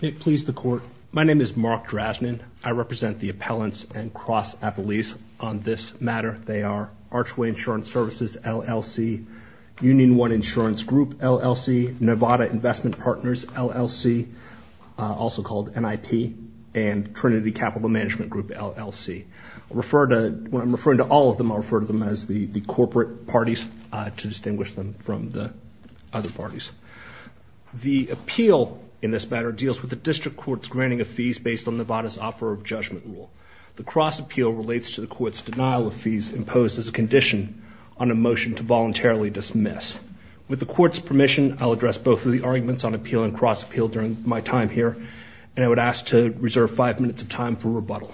May it please the Court. My name is Mark Drasnan. I represent the appellants and cross-appellees on this matter. They are Archway Insurance Services, LLC, Union One Insurance Group, LLC, Nevada Investment Partners, LLC, also called NIP, and Trinity Capital Management Group, LLC. When I'm referring to all of them, I'll refer to them as the corporate parties to distinguish them from the other parties. The appeal in this matter deals with the district court's granting of fees based on Nevada's offer of judgment rule. The cross-appeal relates to the court's denial of fees imposed as a condition on a motion to voluntarily dismiss. With the court's permission, I'll address both of the arguments on appeal and cross-appeal during my time here, and I would ask to reserve five minutes of time for rebuttal.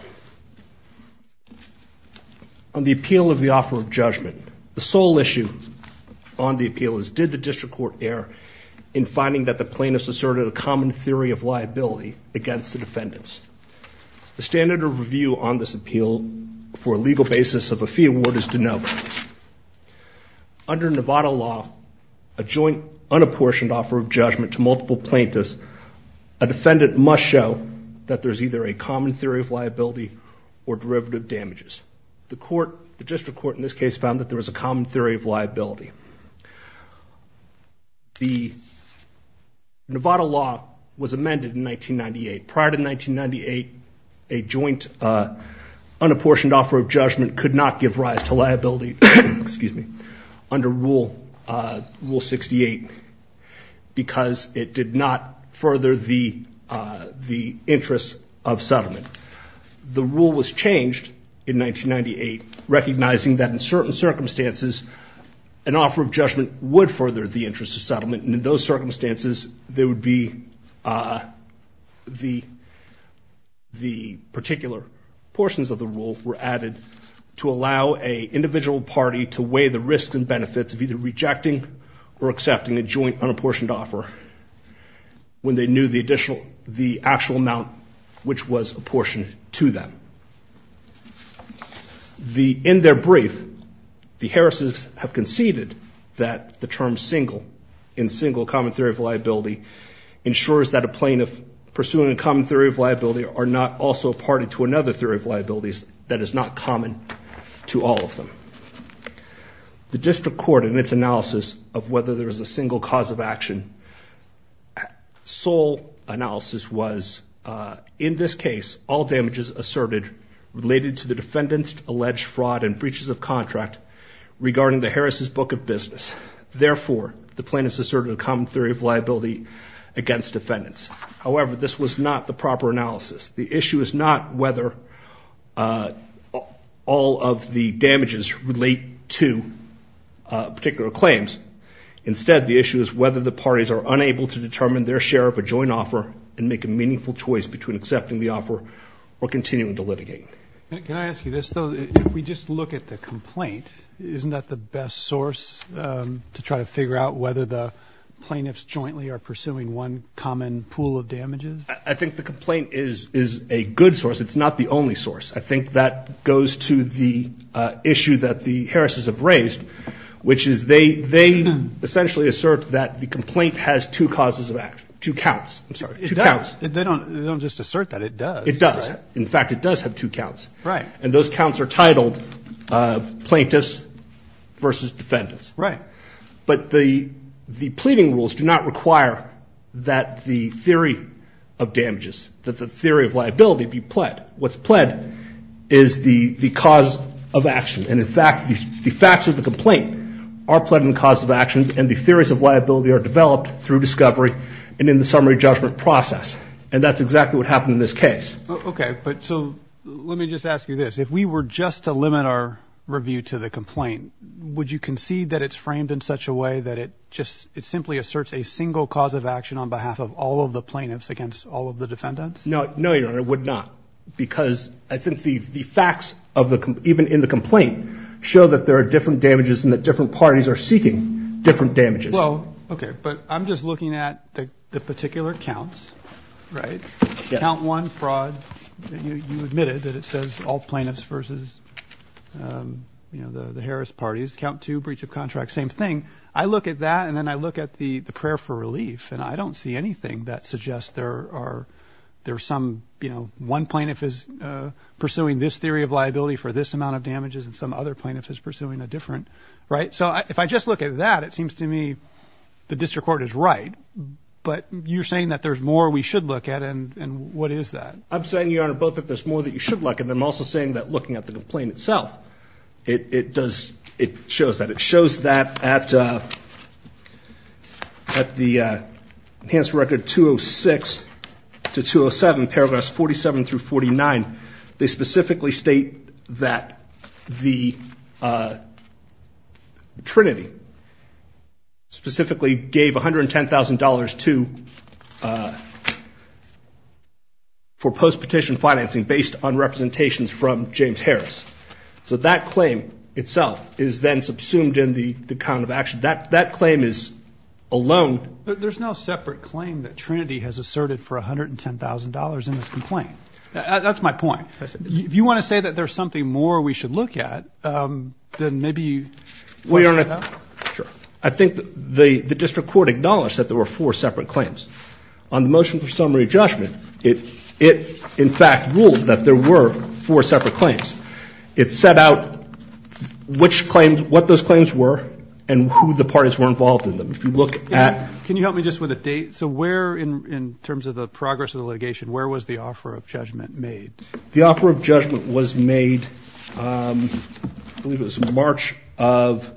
On the appeal of the offer of judgment, the sole issue on the appeal is, did the district court err in finding that the plaintiffs asserted a common theory of liability against the defendants? The standard of review on this appeal for a legal basis of a fee award is de novo. Under Nevada law, a joint unapportioned offer of judgment to multiple plaintiffs, a defendant must show that there's either a common theory of liability or derivative damages. The court, the district court in this case, found that there was a common theory of liability. The Nevada law was amended in 1998. Prior to 1998, a joint unapportioned offer of judgment could not give rise to liability under Rule 68 because it did not further the interest of settlement. The rule was changed in 1998, recognizing that in certain circumstances, an offer of judgment would further the interest of settlement, and in those circumstances, there would be the particular portions of the rule were added to allow an individual party to weigh the risks and benefits of either rejecting or accepting a joint unapportioned offer when they knew the additional, the actual amount which was apportioned to them. In their brief, the Harris's have conceded that the term single, in single common theory of liability, ensures that a plaintiff pursuing a common theory of liability are not also a party to another theory of liabilities that is not common to all of them. The district court, in its analysis of whether there was a single cause of action, sole analysis was, in this case, all damages asserted related to the defendant's alleged fraud and breaches of contract regarding the Harris's book of business. Therefore, the plaintiffs asserted a common theory of liability against defendants. However, this was not the proper analysis. The issue is not whether all of the damages relate to particular claims. Instead, the issue is whether the parties are unable to determine their share of a joint offer and make a meaningful choice between accepting the offer or continuing to litigate. Can I ask you this, though? If we just look at the complaint, isn't that the best source to try to figure out whether the plaintiffs jointly are pursuing one common pool of damages? I think the complaint is a good source. It's not the only source. I think that goes to the issue that the Harris's have raised, which is they essentially assert that the complaint has two causes of action, two counts. I'm sorry, two counts. It does. They don't just assert that. It does. In fact, it does have two counts. Right. And those counts are titled plaintiffs versus defendants. Right. But the pleading rules do not require that the theory of damages, that the theory of liability be pled. What's pled is the cause of action. And, in fact, the facts of the complaint are pled in the cause of action, and the theories of liability are developed through discovery and in the summary judgment process. And that's exactly what happened in this case. Okay. But so let me just ask you this. If we were just to limit our review to the complaint, would you concede that it's framed in such a way that it just simply asserts a single cause of action on behalf of all of the plaintiffs against all of the defendants? No, Your Honor, I would not, because I think the facts even in the complaint show that there are different damages and that different parties are seeking different damages. Well, okay. But I'm just looking at the particular counts, right? Yes. Count one, fraud. You admitted that it says all plaintiffs versus, you know, the Harris parties. Count two, breach of contract, same thing. I look at that, and then I look at the prayer for relief, and I don't see anything that suggests there are some, you know, one plaintiff is pursuing this theory of liability for this amount of damages and some other plaintiff is pursuing a different, right? So if I just look at that, it seems to me the district court is right, but you're saying that there's more we should look at, and what is that? I'm saying, Your Honor, both that there's more that you should look at, and I'm also saying that looking at the complaint itself, it does, it shows that. It shows that at the enhanced record 206 to 207, paragraphs 47 through 49, they specifically state that the Trinity specifically gave $110,000 to, for post-petition financing based on representations from James Harris. So that claim itself is then subsumed in the count of action. That claim is alone. There's no separate claim that Trinity has asserted for $110,000 in this complaint. That's my point. If you want to say that there's something more we should look at, then maybe you. Well, Your Honor, I think the district court acknowledged that there were four separate claims. On the motion for summary judgment, it in fact ruled that there were four separate claims. It set out which claims, what those claims were, and who the parties were involved in them. If you look at. Can you help me just with a date? So where, in terms of the progress of the litigation, where was the offer of judgment made? The offer of judgment was made, I believe it was March of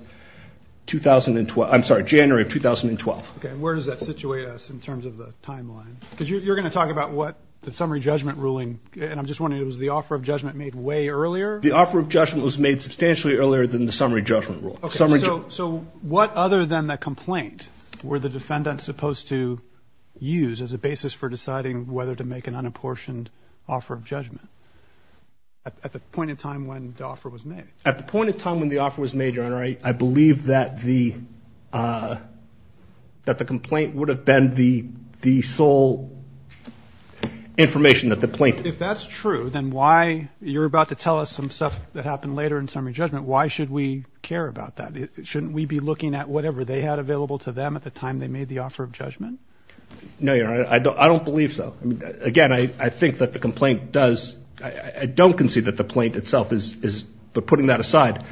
2012. I'm sorry, January of 2012. Okay, and where does that situate us in terms of the timeline? Because you're going to talk about what the summary judgment ruling, and I'm just wondering, was the offer of judgment made way earlier? The offer of judgment was made substantially earlier than the summary judgment rule. Okay, so what other than the complaint were the defendants supposed to use as a basis for deciding whether to make an unapportioned offer of judgment at the point in time when the offer was made? At the point in time when the offer was made, Your Honor, I believe that the complaint would have been the sole information that the plaintiff. If that's true, then why, you're about to tell us some stuff that happened later in summary judgment, why should we care about that? Shouldn't we be looking at whatever they had available to them at the time they made the offer of judgment? No, Your Honor, I don't believe so. Again, I think that the complaint does, I don't concede that the complaint itself is, but putting that aside,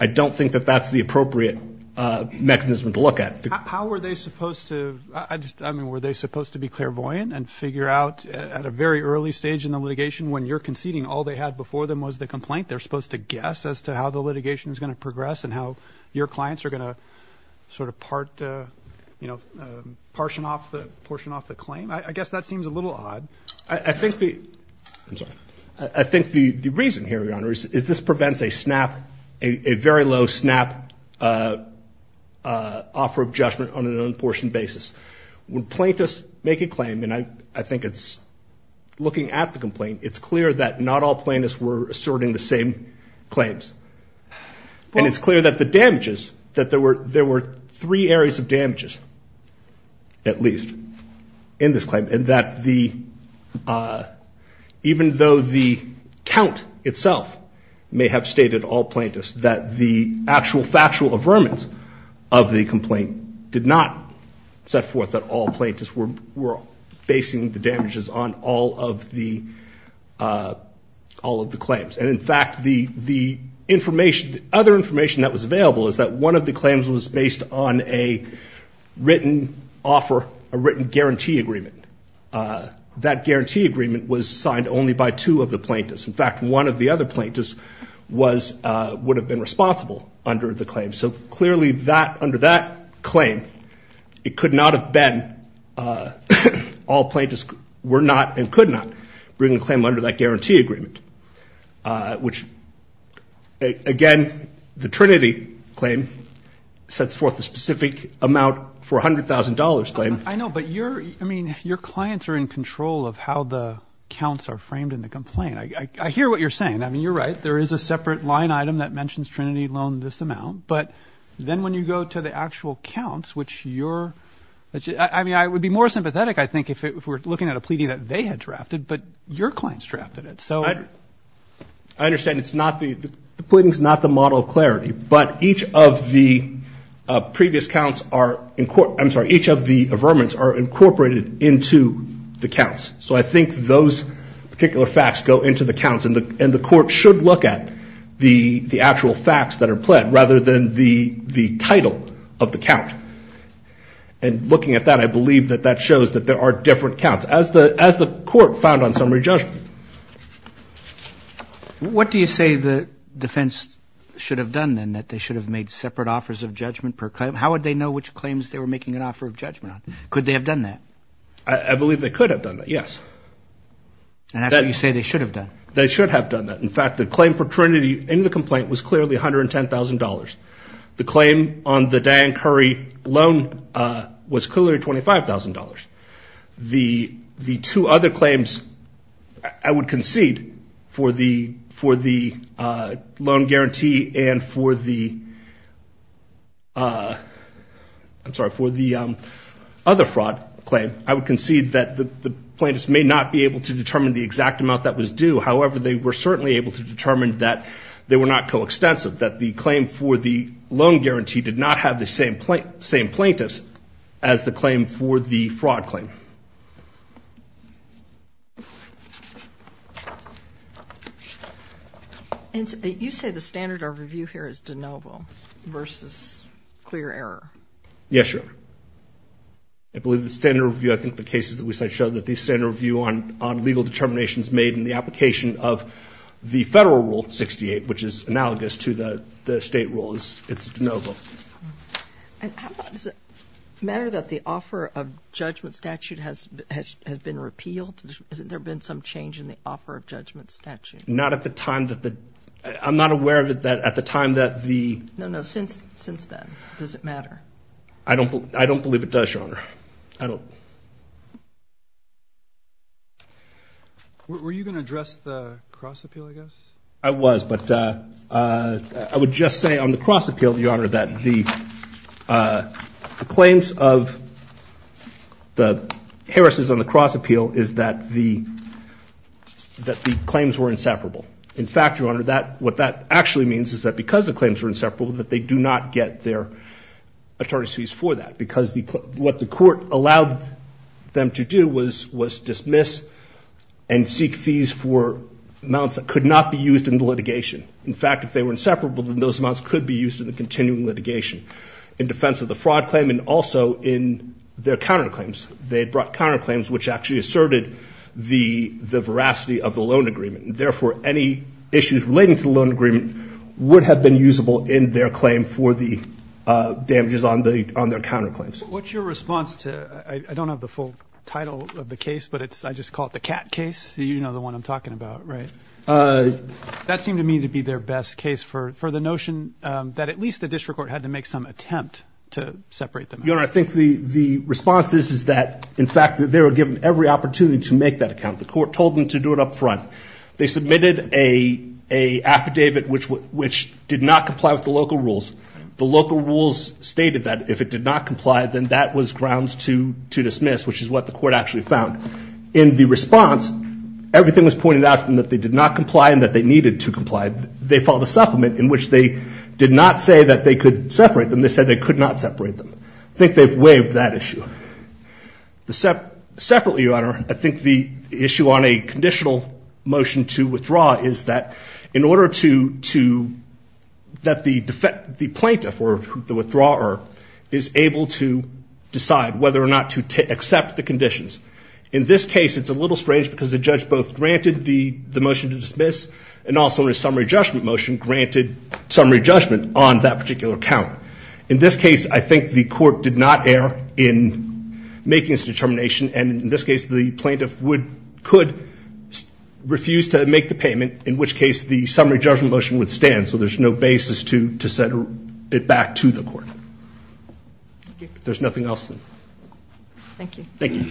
I don't think that that's the appropriate mechanism to look at. How were they supposed to, I mean, were they supposed to be clairvoyant and figure out at a very early stage in the litigation, when you're conceding all they had before them was the complaint, they're supposed to guess as to how the litigation is going to progress and how your clients are going to sort of part, you know, portion off the claim? I guess that seems a little odd. I think the reason here, Your Honor, is this prevents a snap, a very low snap offer of judgment on an unapportioned basis. When plaintiffs make a claim, and I think it's looking at the complaint, it's clear that not all plaintiffs were asserting the same claims. And it's clear that the damages, that there were three areas of damages, at least, in this claim, and that even though the count itself may have stated all plaintiffs, that the actual factual affirmance of the complaint did not set forth that all plaintiffs were basing the damages on all of the claims. And, in fact, the other information that was available is that one of the claims was based on a written offer, a written guarantee agreement. That guarantee agreement was signed only by two of the plaintiffs. In fact, one of the other plaintiffs would have been responsible under the claim. So, clearly, under that claim, it could not have been all plaintiffs were not and could not bring a claim under that guarantee agreement, which, again, the Trinity claim sets forth a specific amount for $100,000 claim. I know, but your clients are in control of how the counts are framed in the complaint. I hear what you're saying. I mean, you're right. There is a separate line item that mentions Trinity loaned this amount. But then when you go to the actual counts, which your ‑‑ I mean, I would be more sympathetic, I think, if we're looking at a pleading that they had drafted, but your clients drafted it. So ‑‑ I understand it's not the ‑‑ the pleading's not the model of clarity, but each of the previous counts are ‑‑ I'm sorry, each of the affirmance are incorporated into the counts. So I think those particular facts go into the counts, and the court should look at the actual facts that are pled rather than the title of the count. And looking at that, I believe that that shows that there are different counts, as the court found on summary judgment. What do you say the defense should have done, then, that they should have made separate offers of judgment per claim? How would they know which claims they were making an offer of judgment on? Could they have done that? I believe they could have done that, yes. And that's what you say they should have done. They should have done that. In fact, the claim for Trinity in the complaint was clearly $110,000. The claim on the Diane Curry loan was clearly $25,000. The two other claims, I would concede, for the loan guarantee and for the other fraud claim, I would concede that the plaintiffs may not be able to determine the exact amount that was due. However, they were certainly able to determine that they were not coextensive, that the claim for the loan guarantee did not have the same plaintiffs as the claim for the fraud claim. Thank you. You say the standard of review here is de novo versus clear error. Yes, sure. I believe the standard review, I think the cases that we cite, show that the standard review on legal determination is made in the application of the federal rule 68, which is analogous to the state rule. It's de novo. Does it matter that the offer of judgment statute has been repealed? Has there been some change in the offer of judgment statute? Not at the time that the ‑‑I'm not aware of it at the time that the ‑‑ No, no, since then. Does it matter? I don't believe it does, Your Honor. I don't. Were you going to address the cross appeal, I guess? I was, but I would just say on the cross appeal, Your Honor, that the claims of the Harris's on the cross appeal is that the claims were inseparable. In fact, Your Honor, what that actually means is that because the claims were inseparable, that they do not get their attorneys' fees for that, because what the court allowed them to do was dismiss and seek fees for amounts that could not be used in the litigation. In fact, if they were inseparable, then those amounts could be used in the continuing litigation in defense of the fraud claim and also in their counterclaims. They brought counterclaims, which actually asserted the veracity of the loan agreement. Therefore, any issues relating to the loan agreement would have been usable in their claim for the damages on their counterclaims. What's your response to, I don't have the full title of the case, but I just call it the cat case. You know the one I'm talking about, right? That seemed to me to be their best case for the notion that at least the district court had to make some attempt to separate them. Your Honor, I think the response is that, in fact, they were given every opportunity to make that account. The court told them to do it up front. They submitted an affidavit which did not comply with the local rules. The local rules stated that if it did not comply, then that was grounds to dismiss, which is what the court actually found. In the response, everything was pointed out to them that they did not comply and that they needed to comply. They filed a supplement in which they did not say that they could separate them. They said they could not separate them. I think they've waived that issue. Separately, Your Honor, I think the issue on a conditional motion to withdraw is that, in order to, that the plaintiff, or the withdrawer, is able to decide whether or not to accept the conditions. In this case, it's a little strange because the judge both granted the motion to dismiss and also in a summary judgment motion granted summary judgment on that particular account. In this case, I think the court did not err in making its determination, and in this case the plaintiff could refuse to make the payment, in which case the summary judgment motion would stand. So there's no basis to set it back to the court. If there's nothing else, then. Thank you. Thank you.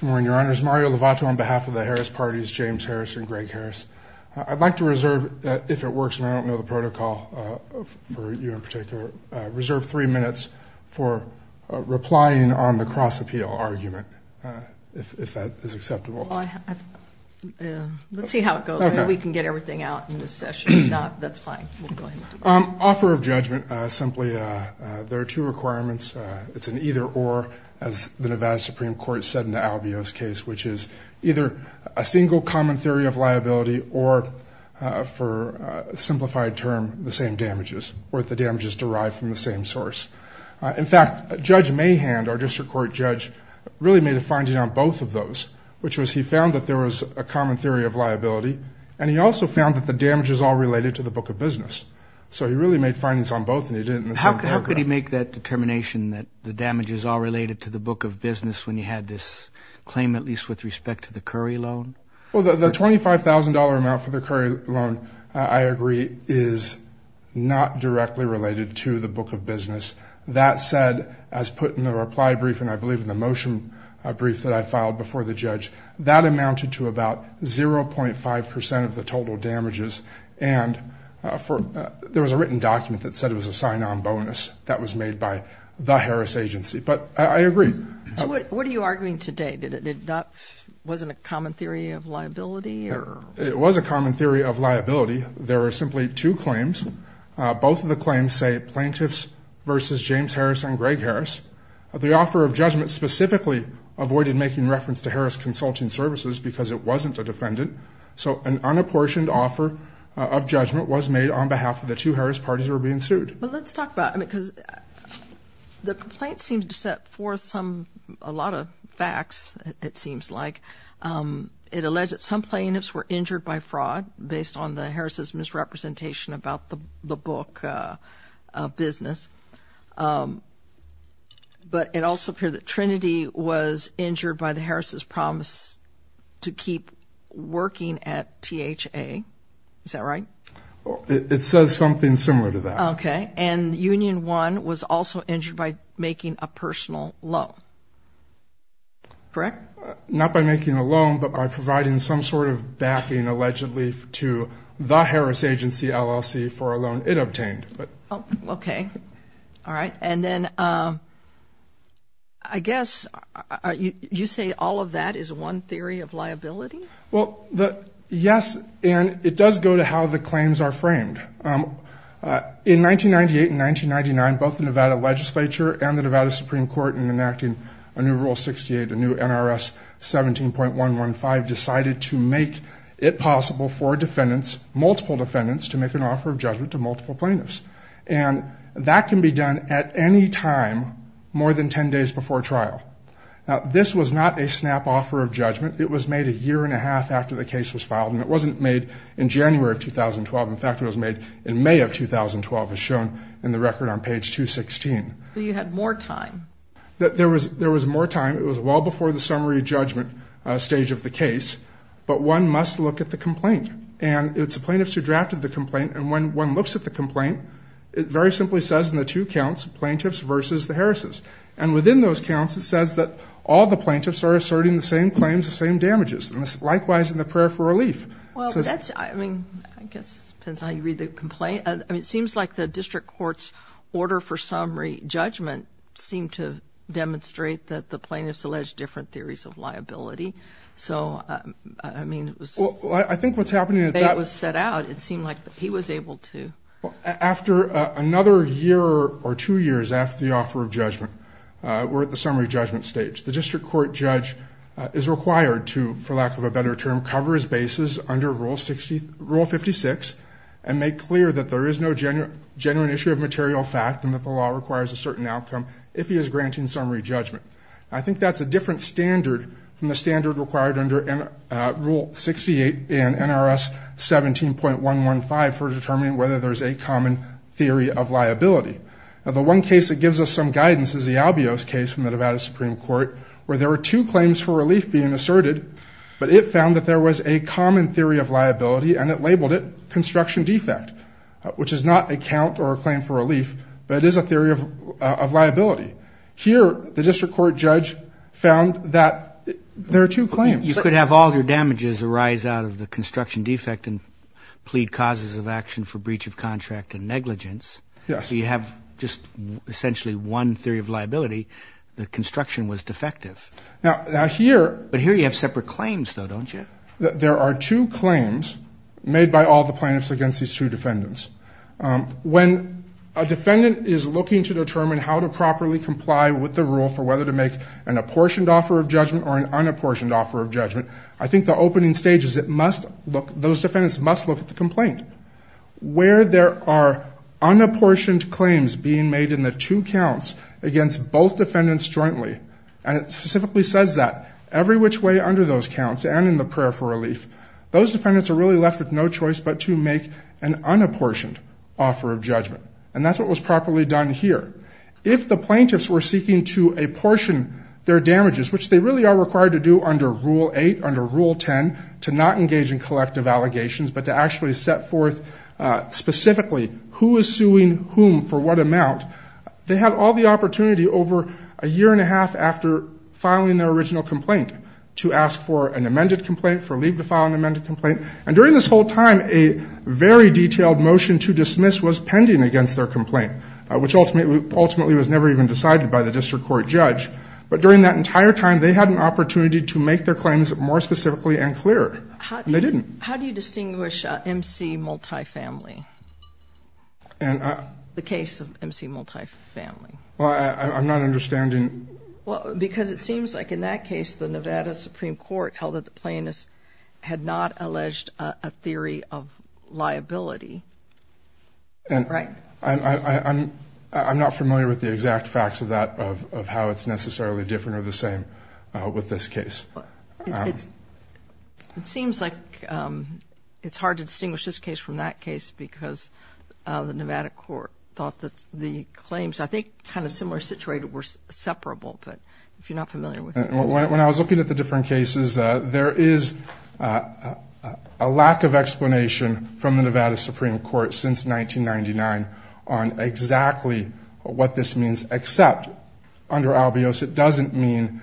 Good morning, Your Honors. Mario Lovato on behalf of the Harris Party's James Harris and Greg Harris. I'd like to reserve, if it works and I don't know the protocol for you in particular, reserve three minutes for replying on the cross-appeal argument, if that is acceptable. Let's see how it goes. We can get everything out in this session. That's fine. We'll go ahead. Offer of judgment. Simply, there are two requirements. It's an either or, as the Nevada Supreme Court said in the Albios case, which is either a single common theory of liability or, for a simplified term, the same damages, or the damages derived from the same source. In fact, Judge Mahan, our district court judge, really made a finding on both of those, which was he found that there was a common theory of liability, and he also found that the damage is all related to the book of business. So he really made findings on both, and he did it in the same paragraph. How could he make that determination that the damage is all related to the book of business when you had this claim, at least with respect to the Curry loan? Well, the $25,000 amount for the Curry loan, I agree, is not directly related to the book of business. That said, as put in the reply brief, and I believe in the motion brief that I filed before the judge, that amounted to about 0.5% of the total damages, and there was a written document that said it was a sign-on bonus that was made by the Harris agency. But I agree. What are you arguing today? Was it a common theory of liability? It was a common theory of liability. There were simply two claims. Both of the claims say plaintiffs versus James Harris and Greg Harris. The offer of judgment specifically avoided making reference to Harris Consulting Services because it wasn't a defendant. So an unapportioned offer of judgment was made on behalf of the two Harris parties who were being sued. Well, let's talk about it because the complaint seems to set forth a lot of facts, it seems like. It alleged that some plaintiffs were injured by fraud based on the Harris' misrepresentation about the book of business, but it also appeared that Trinity was injured by the Harris' promise to keep working at THA. Is that right? It says something similar to that. Okay. And Union One was also injured by making a personal loan, correct? Not by making a loan, but by providing some sort of backing, allegedly, to the Harris agency LLC for a loan it obtained. Okay. All right. And then I guess you say all of that is one theory of liability? Well, yes, and it does go to how the claims are framed. In 1998 and 1999, both the Nevada legislature and the Nevada Supreme Court, in enacting a new Rule 68, a new NRS 17.115, decided to make it possible for multiple defendants to make an offer of judgment to multiple plaintiffs. And that can be done at any time more than 10 days before trial. Now, this was not a snap offer of judgment. It was made a year and a half after the case was filed, and it wasn't made in January of 2012. In fact, it was made in May of 2012, as shown in the record on page 216. So you had more time. There was more time. It was well before the summary judgment stage of the case. But one must look at the complaint, and it's the plaintiffs who drafted the complaint. And when one looks at the complaint, it very simply says in the two counts, plaintiffs versus the Harris'. And within those counts, it says that all the plaintiffs are asserting the same claims, the same damages. And this is likewise in the prayer for relief. Well, that's, I mean, I guess it depends on how you read the complaint. I mean, it seems like the district court's order for summary judgment seemed to demonstrate that the plaintiffs alleged different theories of liability. So, I mean, it was. Well, I think what's happening at that. It was set out. It seemed like he was able to. After another year or two years after the offer of judgment, we're at the summary judgment stage. The district court judge is required to, for lack of a better term, cover his bases under Rule 56 and make clear that there is no genuine issue of material fact and that the law requires a certain outcome if he is granting summary judgment. I think that's a different standard from the standard required under Rule 68 in NRS 17.115 for determining whether there's a common theory of liability. Now, the one case that gives us some guidance is the Albios case from the Nevada Supreme Court where there were two claims for relief being asserted, but it found that there was a common theory of liability and it labeled it construction defect, which is not a count or a claim for relief, but it is a theory of liability. Here, the district court judge found that there are two claims. You could have all your damages arise out of the construction defect and plead causes of action for breach of contract and negligence. Yes. So you have just essentially one theory of liability. The construction was defective. But here you have separate claims, though, don't you? There are two claims made by all the plaintiffs against these two defendants. When a defendant is looking to determine how to properly comply with the rule for whether to make an apportioned offer of judgment or an unapportioned offer of judgment, I think the opening stage is those defendants must look at the complaint. Where there are unapportioned claims being made in the two counts against both defendants jointly, and it specifically says that, every which way under those counts and in the prayer for relief, those defendants are really left with no choice but to make an unapportioned offer of judgment. And that's what was properly done here. If the plaintiffs were seeking to apportion their damages, which they really are required to do under Rule 8, under Rule 10, to not engage in collective allegations but to actually set forth specifically who is suing whom for what amount, they had all the opportunity over a year and a half after filing their original complaint to ask for an amended complaint, for leave to file an amended complaint. And during this whole time, a very detailed motion to dismiss was pending against their complaint, which ultimately was never even decided by the district court judge. But during that entire time, they had an opportunity to make their claims more specifically and clearer. And they didn't. How do you distinguish MC multifamily, the case of MC multifamily? Well, I'm not understanding. Well, because it seems like in that case, the Nevada Supreme Court held that the plaintiffs had not alleged a theory of liability. Right. I'm not familiar with the exact facts of that, of how it's necessarily different or the same with this case. It seems like it's hard to distinguish this case from that case because the Nevada court thought that the claims, I think, kind of similar situated were separable. But if you're not familiar with it, that's fine. A lack of explanation from the Nevada Supreme Court since 1999 on exactly what this means, except under albios, it doesn't mean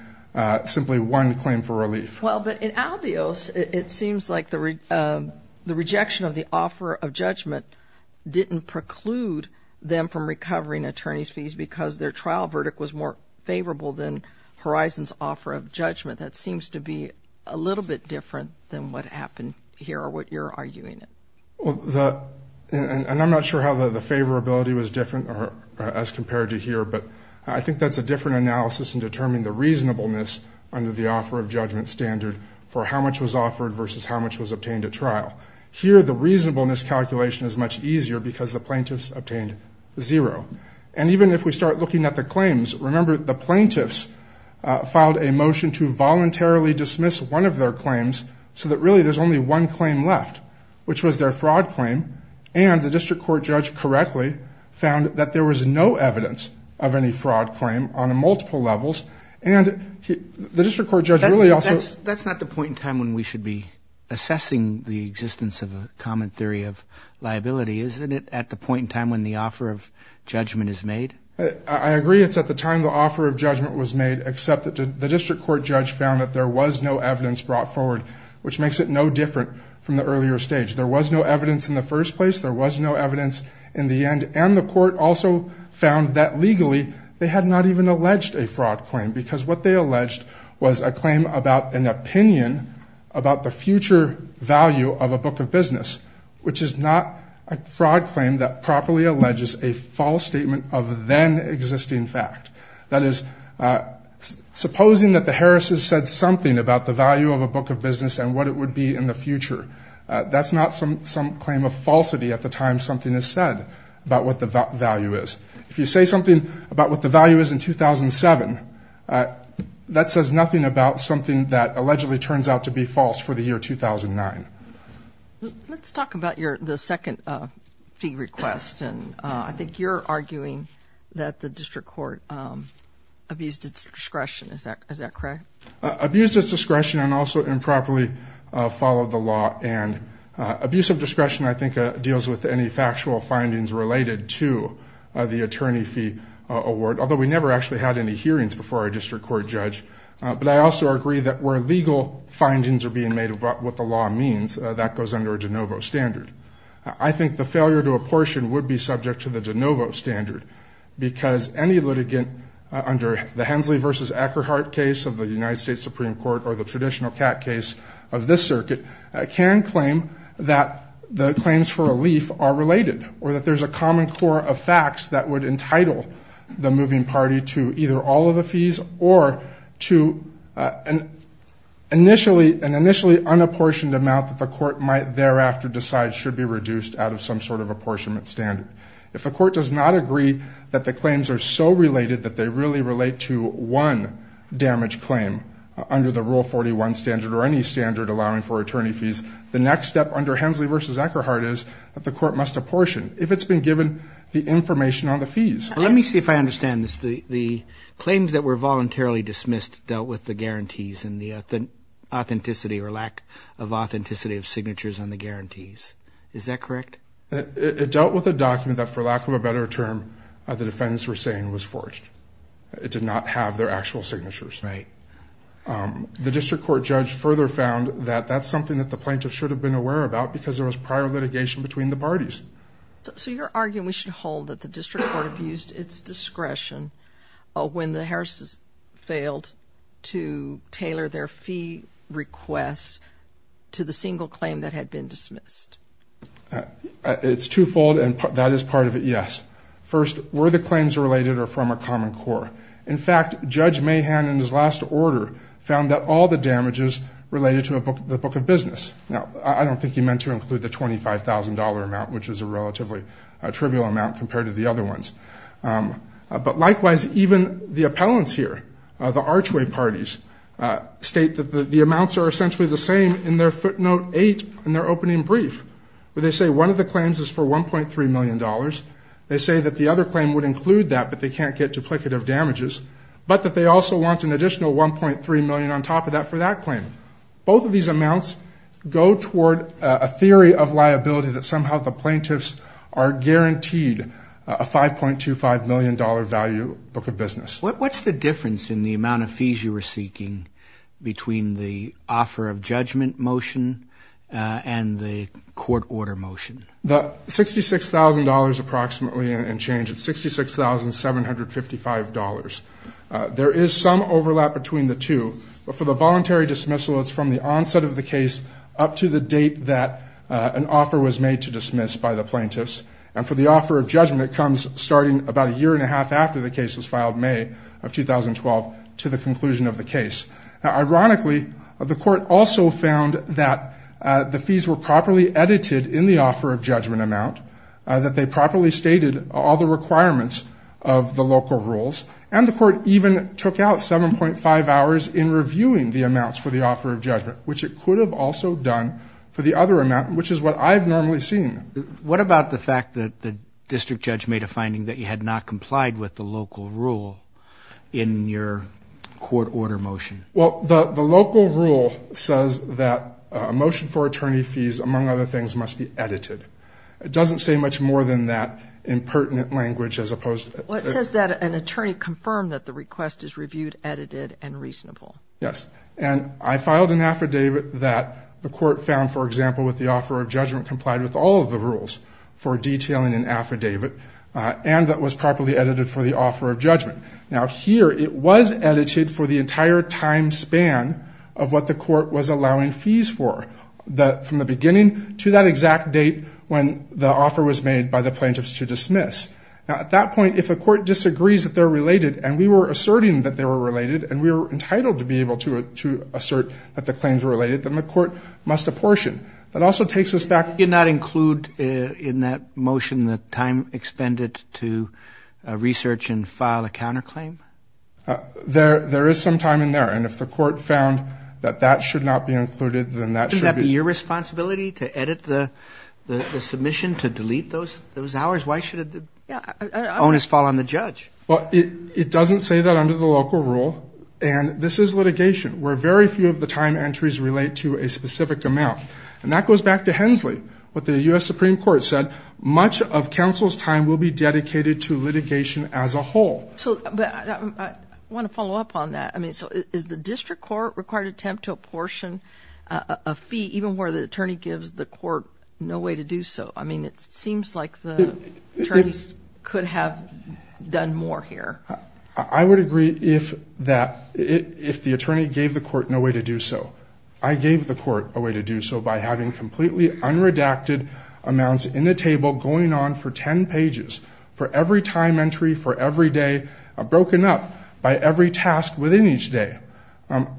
simply one claim for relief. Well, but in albios, it seems like the rejection of the offer of judgment didn't preclude them from recovering attorney's fees because their trial verdict was more favorable than Horizons offer of judgment. That seems to be a little bit different than what happened here or what you're arguing. And I'm not sure how the favorability was different as compared to here, but I think that's a different analysis in determining the reasonableness under the offer of judgment standard for how much was offered versus how much was obtained at trial. Here, the reasonableness calculation is much easier because the plaintiffs obtained zero. And even if we start looking at the claims, remember the plaintiffs filed a motion to voluntarily dismiss one of their claims so that really there's only one claim left, which was their fraud claim. And the district court judge correctly found that there was no evidence of any fraud claim on multiple levels. And the district court judge really also – That's not the point in time when we should be assessing the existence of a common theory of liability, isn't it? At the point in time when the offer of judgment is made? I agree it's at the time the offer of judgment was made, except that the district court judge found that there was no evidence brought forward, which makes it no different from the earlier stage. There was no evidence in the first place. There was no evidence in the end. And the court also found that legally they had not even alleged a fraud claim because what they alleged was a claim about an opinion about the future value of a book of business, which is not a fraud claim that properly alleges a false statement of then existing fact. That is, supposing that the Harris's said something about the value of a book of business and what it would be in the future, that's not some claim of falsity at the time something is said about what the value is. If you say something about what the value is in 2007, that says nothing about something that allegedly turns out to be false for the year 2009. Let's talk about the second fee request. I think you're arguing that the district court abused its discretion. Is that correct? Abused its discretion and also improperly followed the law. And abuse of discretion I think deals with any factual findings related to the attorney fee award, although we never actually had any hearings before our district court judge. But I also agree that where legal findings are being made about what the law means, that goes under a de novo standard. I think the failure to apportion would be subject to the de novo standard because any litigant under the Hensley v. Ackerhart case of the United States Supreme Court or the traditional cat case of this circuit can claim that the claims for relief are related or that there's a common core of facts that would entitle the moving party to either all of the fees or to an initially unapportioned amount that the court might thereafter decide should be reduced out of some sort of apportionment standard. If the court does not agree that the claims are so related that they really relate to one damaged claim under the Rule 41 standard or any standard allowing for attorney fees, the next step under Hensley v. Ackerhart is that the court must apportion if it's been given the information on the fees. Let me see if I understand this. The claims that were voluntarily dismissed dealt with the guarantees and the authenticity or lack of authenticity of signatures on the guarantees. Is that correct? It dealt with a document that, for lack of a better term, the defendants were saying was forged. It did not have their actual signatures. Right. The district court judge further found that that's something that the plaintiff should have been aware about because there was prior litigation between the parties. So you're arguing we should hold that the district court abused its discretion when the Harris's failed to tailor their fee requests to the single claim that had been dismissed. It's twofold, and that is part of it, yes. First, were the claims related or from a common core? In fact, Judge Mahan, in his last order, found that all the damages related to the book of business. Now, I don't think he meant to include the $25,000 amount, which is a relatively trivial amount compared to the other ones. But likewise, even the appellants here, the archway parties, state that the amounts are essentially the same in their footnote 8 in their opening brief where they say one of the claims is for $1.3 million. They say that the other claim would include that, but they can't get duplicative damages, but that they also want an additional $1.3 million on top of that for that claim. Both of these amounts go toward a theory of liability that somehow the plaintiffs are guaranteed a $5.25 million value book of business. What's the difference in the amount of fees you were seeking between the offer of judgment motion and the court order motion? The $66,000 approximately and change, it's $66,755. There is some overlap between the two. But for the voluntary dismissal, it's from the onset of the case up to the date that an offer was made to dismiss by the plaintiffs. And for the offer of judgment, it comes starting about a year and a half after the case was filed, May of 2012, to the conclusion of the case. Now, ironically, the court also found that the fees were properly edited in the offer of judgment amount, that they properly stated all the requirements of the local rules, and the court even took out 7.5 hours in reviewing the amounts for the offer of judgment, which it could have also done for the other amount, which is what I've normally seen. What about the fact that the district judge made a finding that you had not complied with the local rule in your court order motion? Well, the local rule says that a motion for attorney fees, among other things, must be edited. It doesn't say much more than that in pertinent language as opposed to... Well, it says that an attorney confirmed that the request is reviewed, edited, and reasonable. Yes. And I filed an affidavit that the court found, for example, with the offer of judgment complied with all of the rules for detailing an affidavit and that was properly edited for the offer of judgment. Now, here it was edited for the entire time span of what the court was allowing fees for, from the beginning to that exact date when the offer was made by the plaintiffs to dismiss. Now, at that point, if the court disagrees that they're related and we were asserting that they were related and we were entitled to be able to assert that the claims were related, then the court must apportion. That also takes us back... Did you not include in that motion the time expended to research and file a counterclaim? There is some time in there, and if the court found that that should not be included, then that should be... Shouldn't that be your responsibility to edit the submission to delete those hours? Why should the onus fall on the judge? Well, it doesn't say that under the local rule, and this is litigation where very few of the time entries relate to a specific amount. And that goes back to Hensley, what the U.S. Supreme Court said, much of counsel's time will be dedicated to litigation as a whole. I want to follow up on that. So is the district court required to attempt to apportion a fee even where the attorney gives the court no way to do so? I mean, it seems like the attorneys could have done more here. I would agree if the attorney gave the court no way to do so. I gave the court a way to do so by having completely unredacted amounts in the table going on for 10 pages for every time entry for every day, broken up by every task within each day.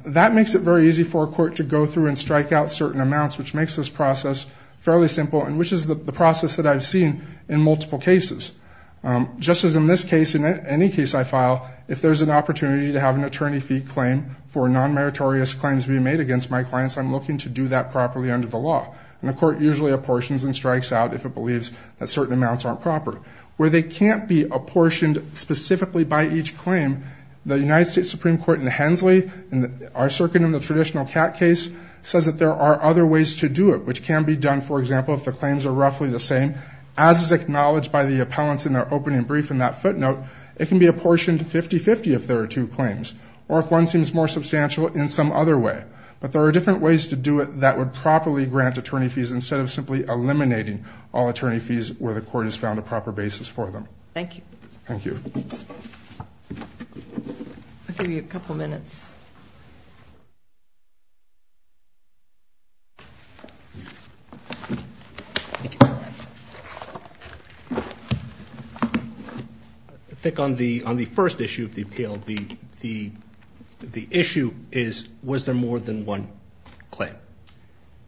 That makes it very easy for a court to go through and strike out certain amounts, which makes this process fairly simple and which is the process that I've seen in multiple cases. Just as in this case, in any case I file, if there's an opportunity to have an attorney fee claim for non-meritorious claims being made against my clients, I'm looking to do that properly under the law. And the court usually apportions and strikes out if it believes that certain amounts aren't proper. Where they can't be apportioned specifically by each claim, the United States Supreme Court in Hensley, our circuit in the traditional CAT case, says that there are other ways to do it, which can be done, for example, if the claims are roughly the same. As is acknowledged by the appellants in their opening brief in that footnote, it can be apportioned 50-50 if there are two claims or if one seems more substantial in some other way. But there are different ways to do it that would properly grant attorney fees instead of simply eliminating all attorney fees where the court has found a proper basis for them. Thank you. Thank you. I'll give you a couple minutes. I think on the first issue of the appeal, the issue is was there more than one claim,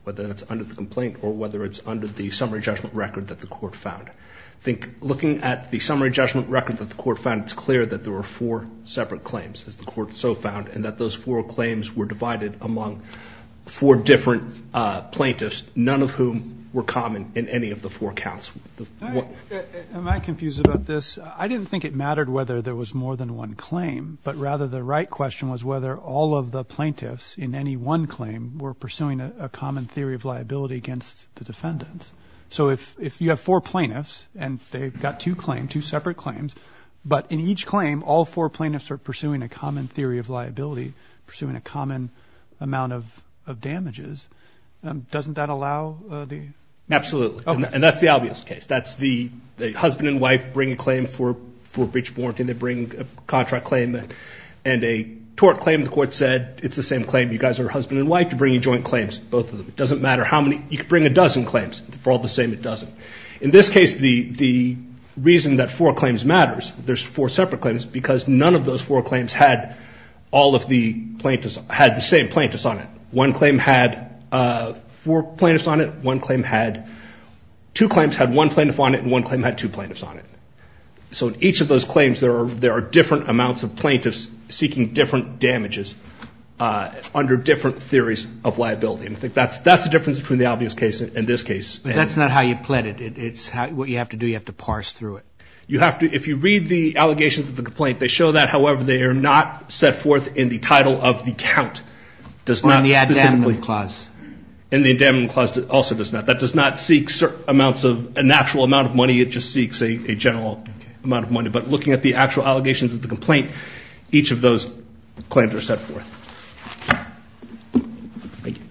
whether that's under the complaint or whether it's under the summary judgment record that the court found. I think looking at the summary judgment record that the court found, it's clear that there were four separate claims, as the court so found, and that those four claims were divided among four different plaintiffs, none of whom were common in any of the four counts. Am I confused about this? I didn't think it mattered whether there was more than one claim, but rather the right question was whether all of the plaintiffs in any one claim were pursuing a common theory of liability against the defendants. So if you have four plaintiffs and they've got two separate claims, but in each claim all four plaintiffs are pursuing a common theory of liability, pursuing a common amount of damages, doesn't that allow the? Absolutely. And that's the obvious case. That's the husband and wife bringing a claim for breach of warranty. They bring a contract claim and a tort claim. The court said it's the same claim. You guys are husband and wife. You're bringing joint claims, both of them. It doesn't matter how many. You could bring a dozen claims. For all the same, it doesn't. In this case, the reason that four claims matters, there's four separate claims, because none of those four claims had all of the plaintiffs had the same plaintiffs on it. One claim had four plaintiffs on it. One claim had two claims had one plaintiff on it, and one claim had two plaintiffs on it. So in each of those claims there are different amounts of plaintiffs seeking different damages under different theories of liability. And I think that's the difference between the obvious case and this case. But that's not how you plead it. It's what you have to do. You have to parse through it. You have to. If you read the allegations of the complaint, they show that, however, they are not set forth in the title of the count. On the endowment clause. And the endowment clause also does not. It just seeks a general amount of money. But looking at the actual allegations of the complaint, each of those claims are set forth. Thank you.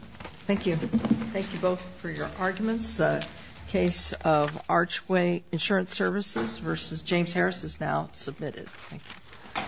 Thank you. Thank you both for your arguments. The case of Archway Insurance Services versus James Harris is now submitted. Thank you.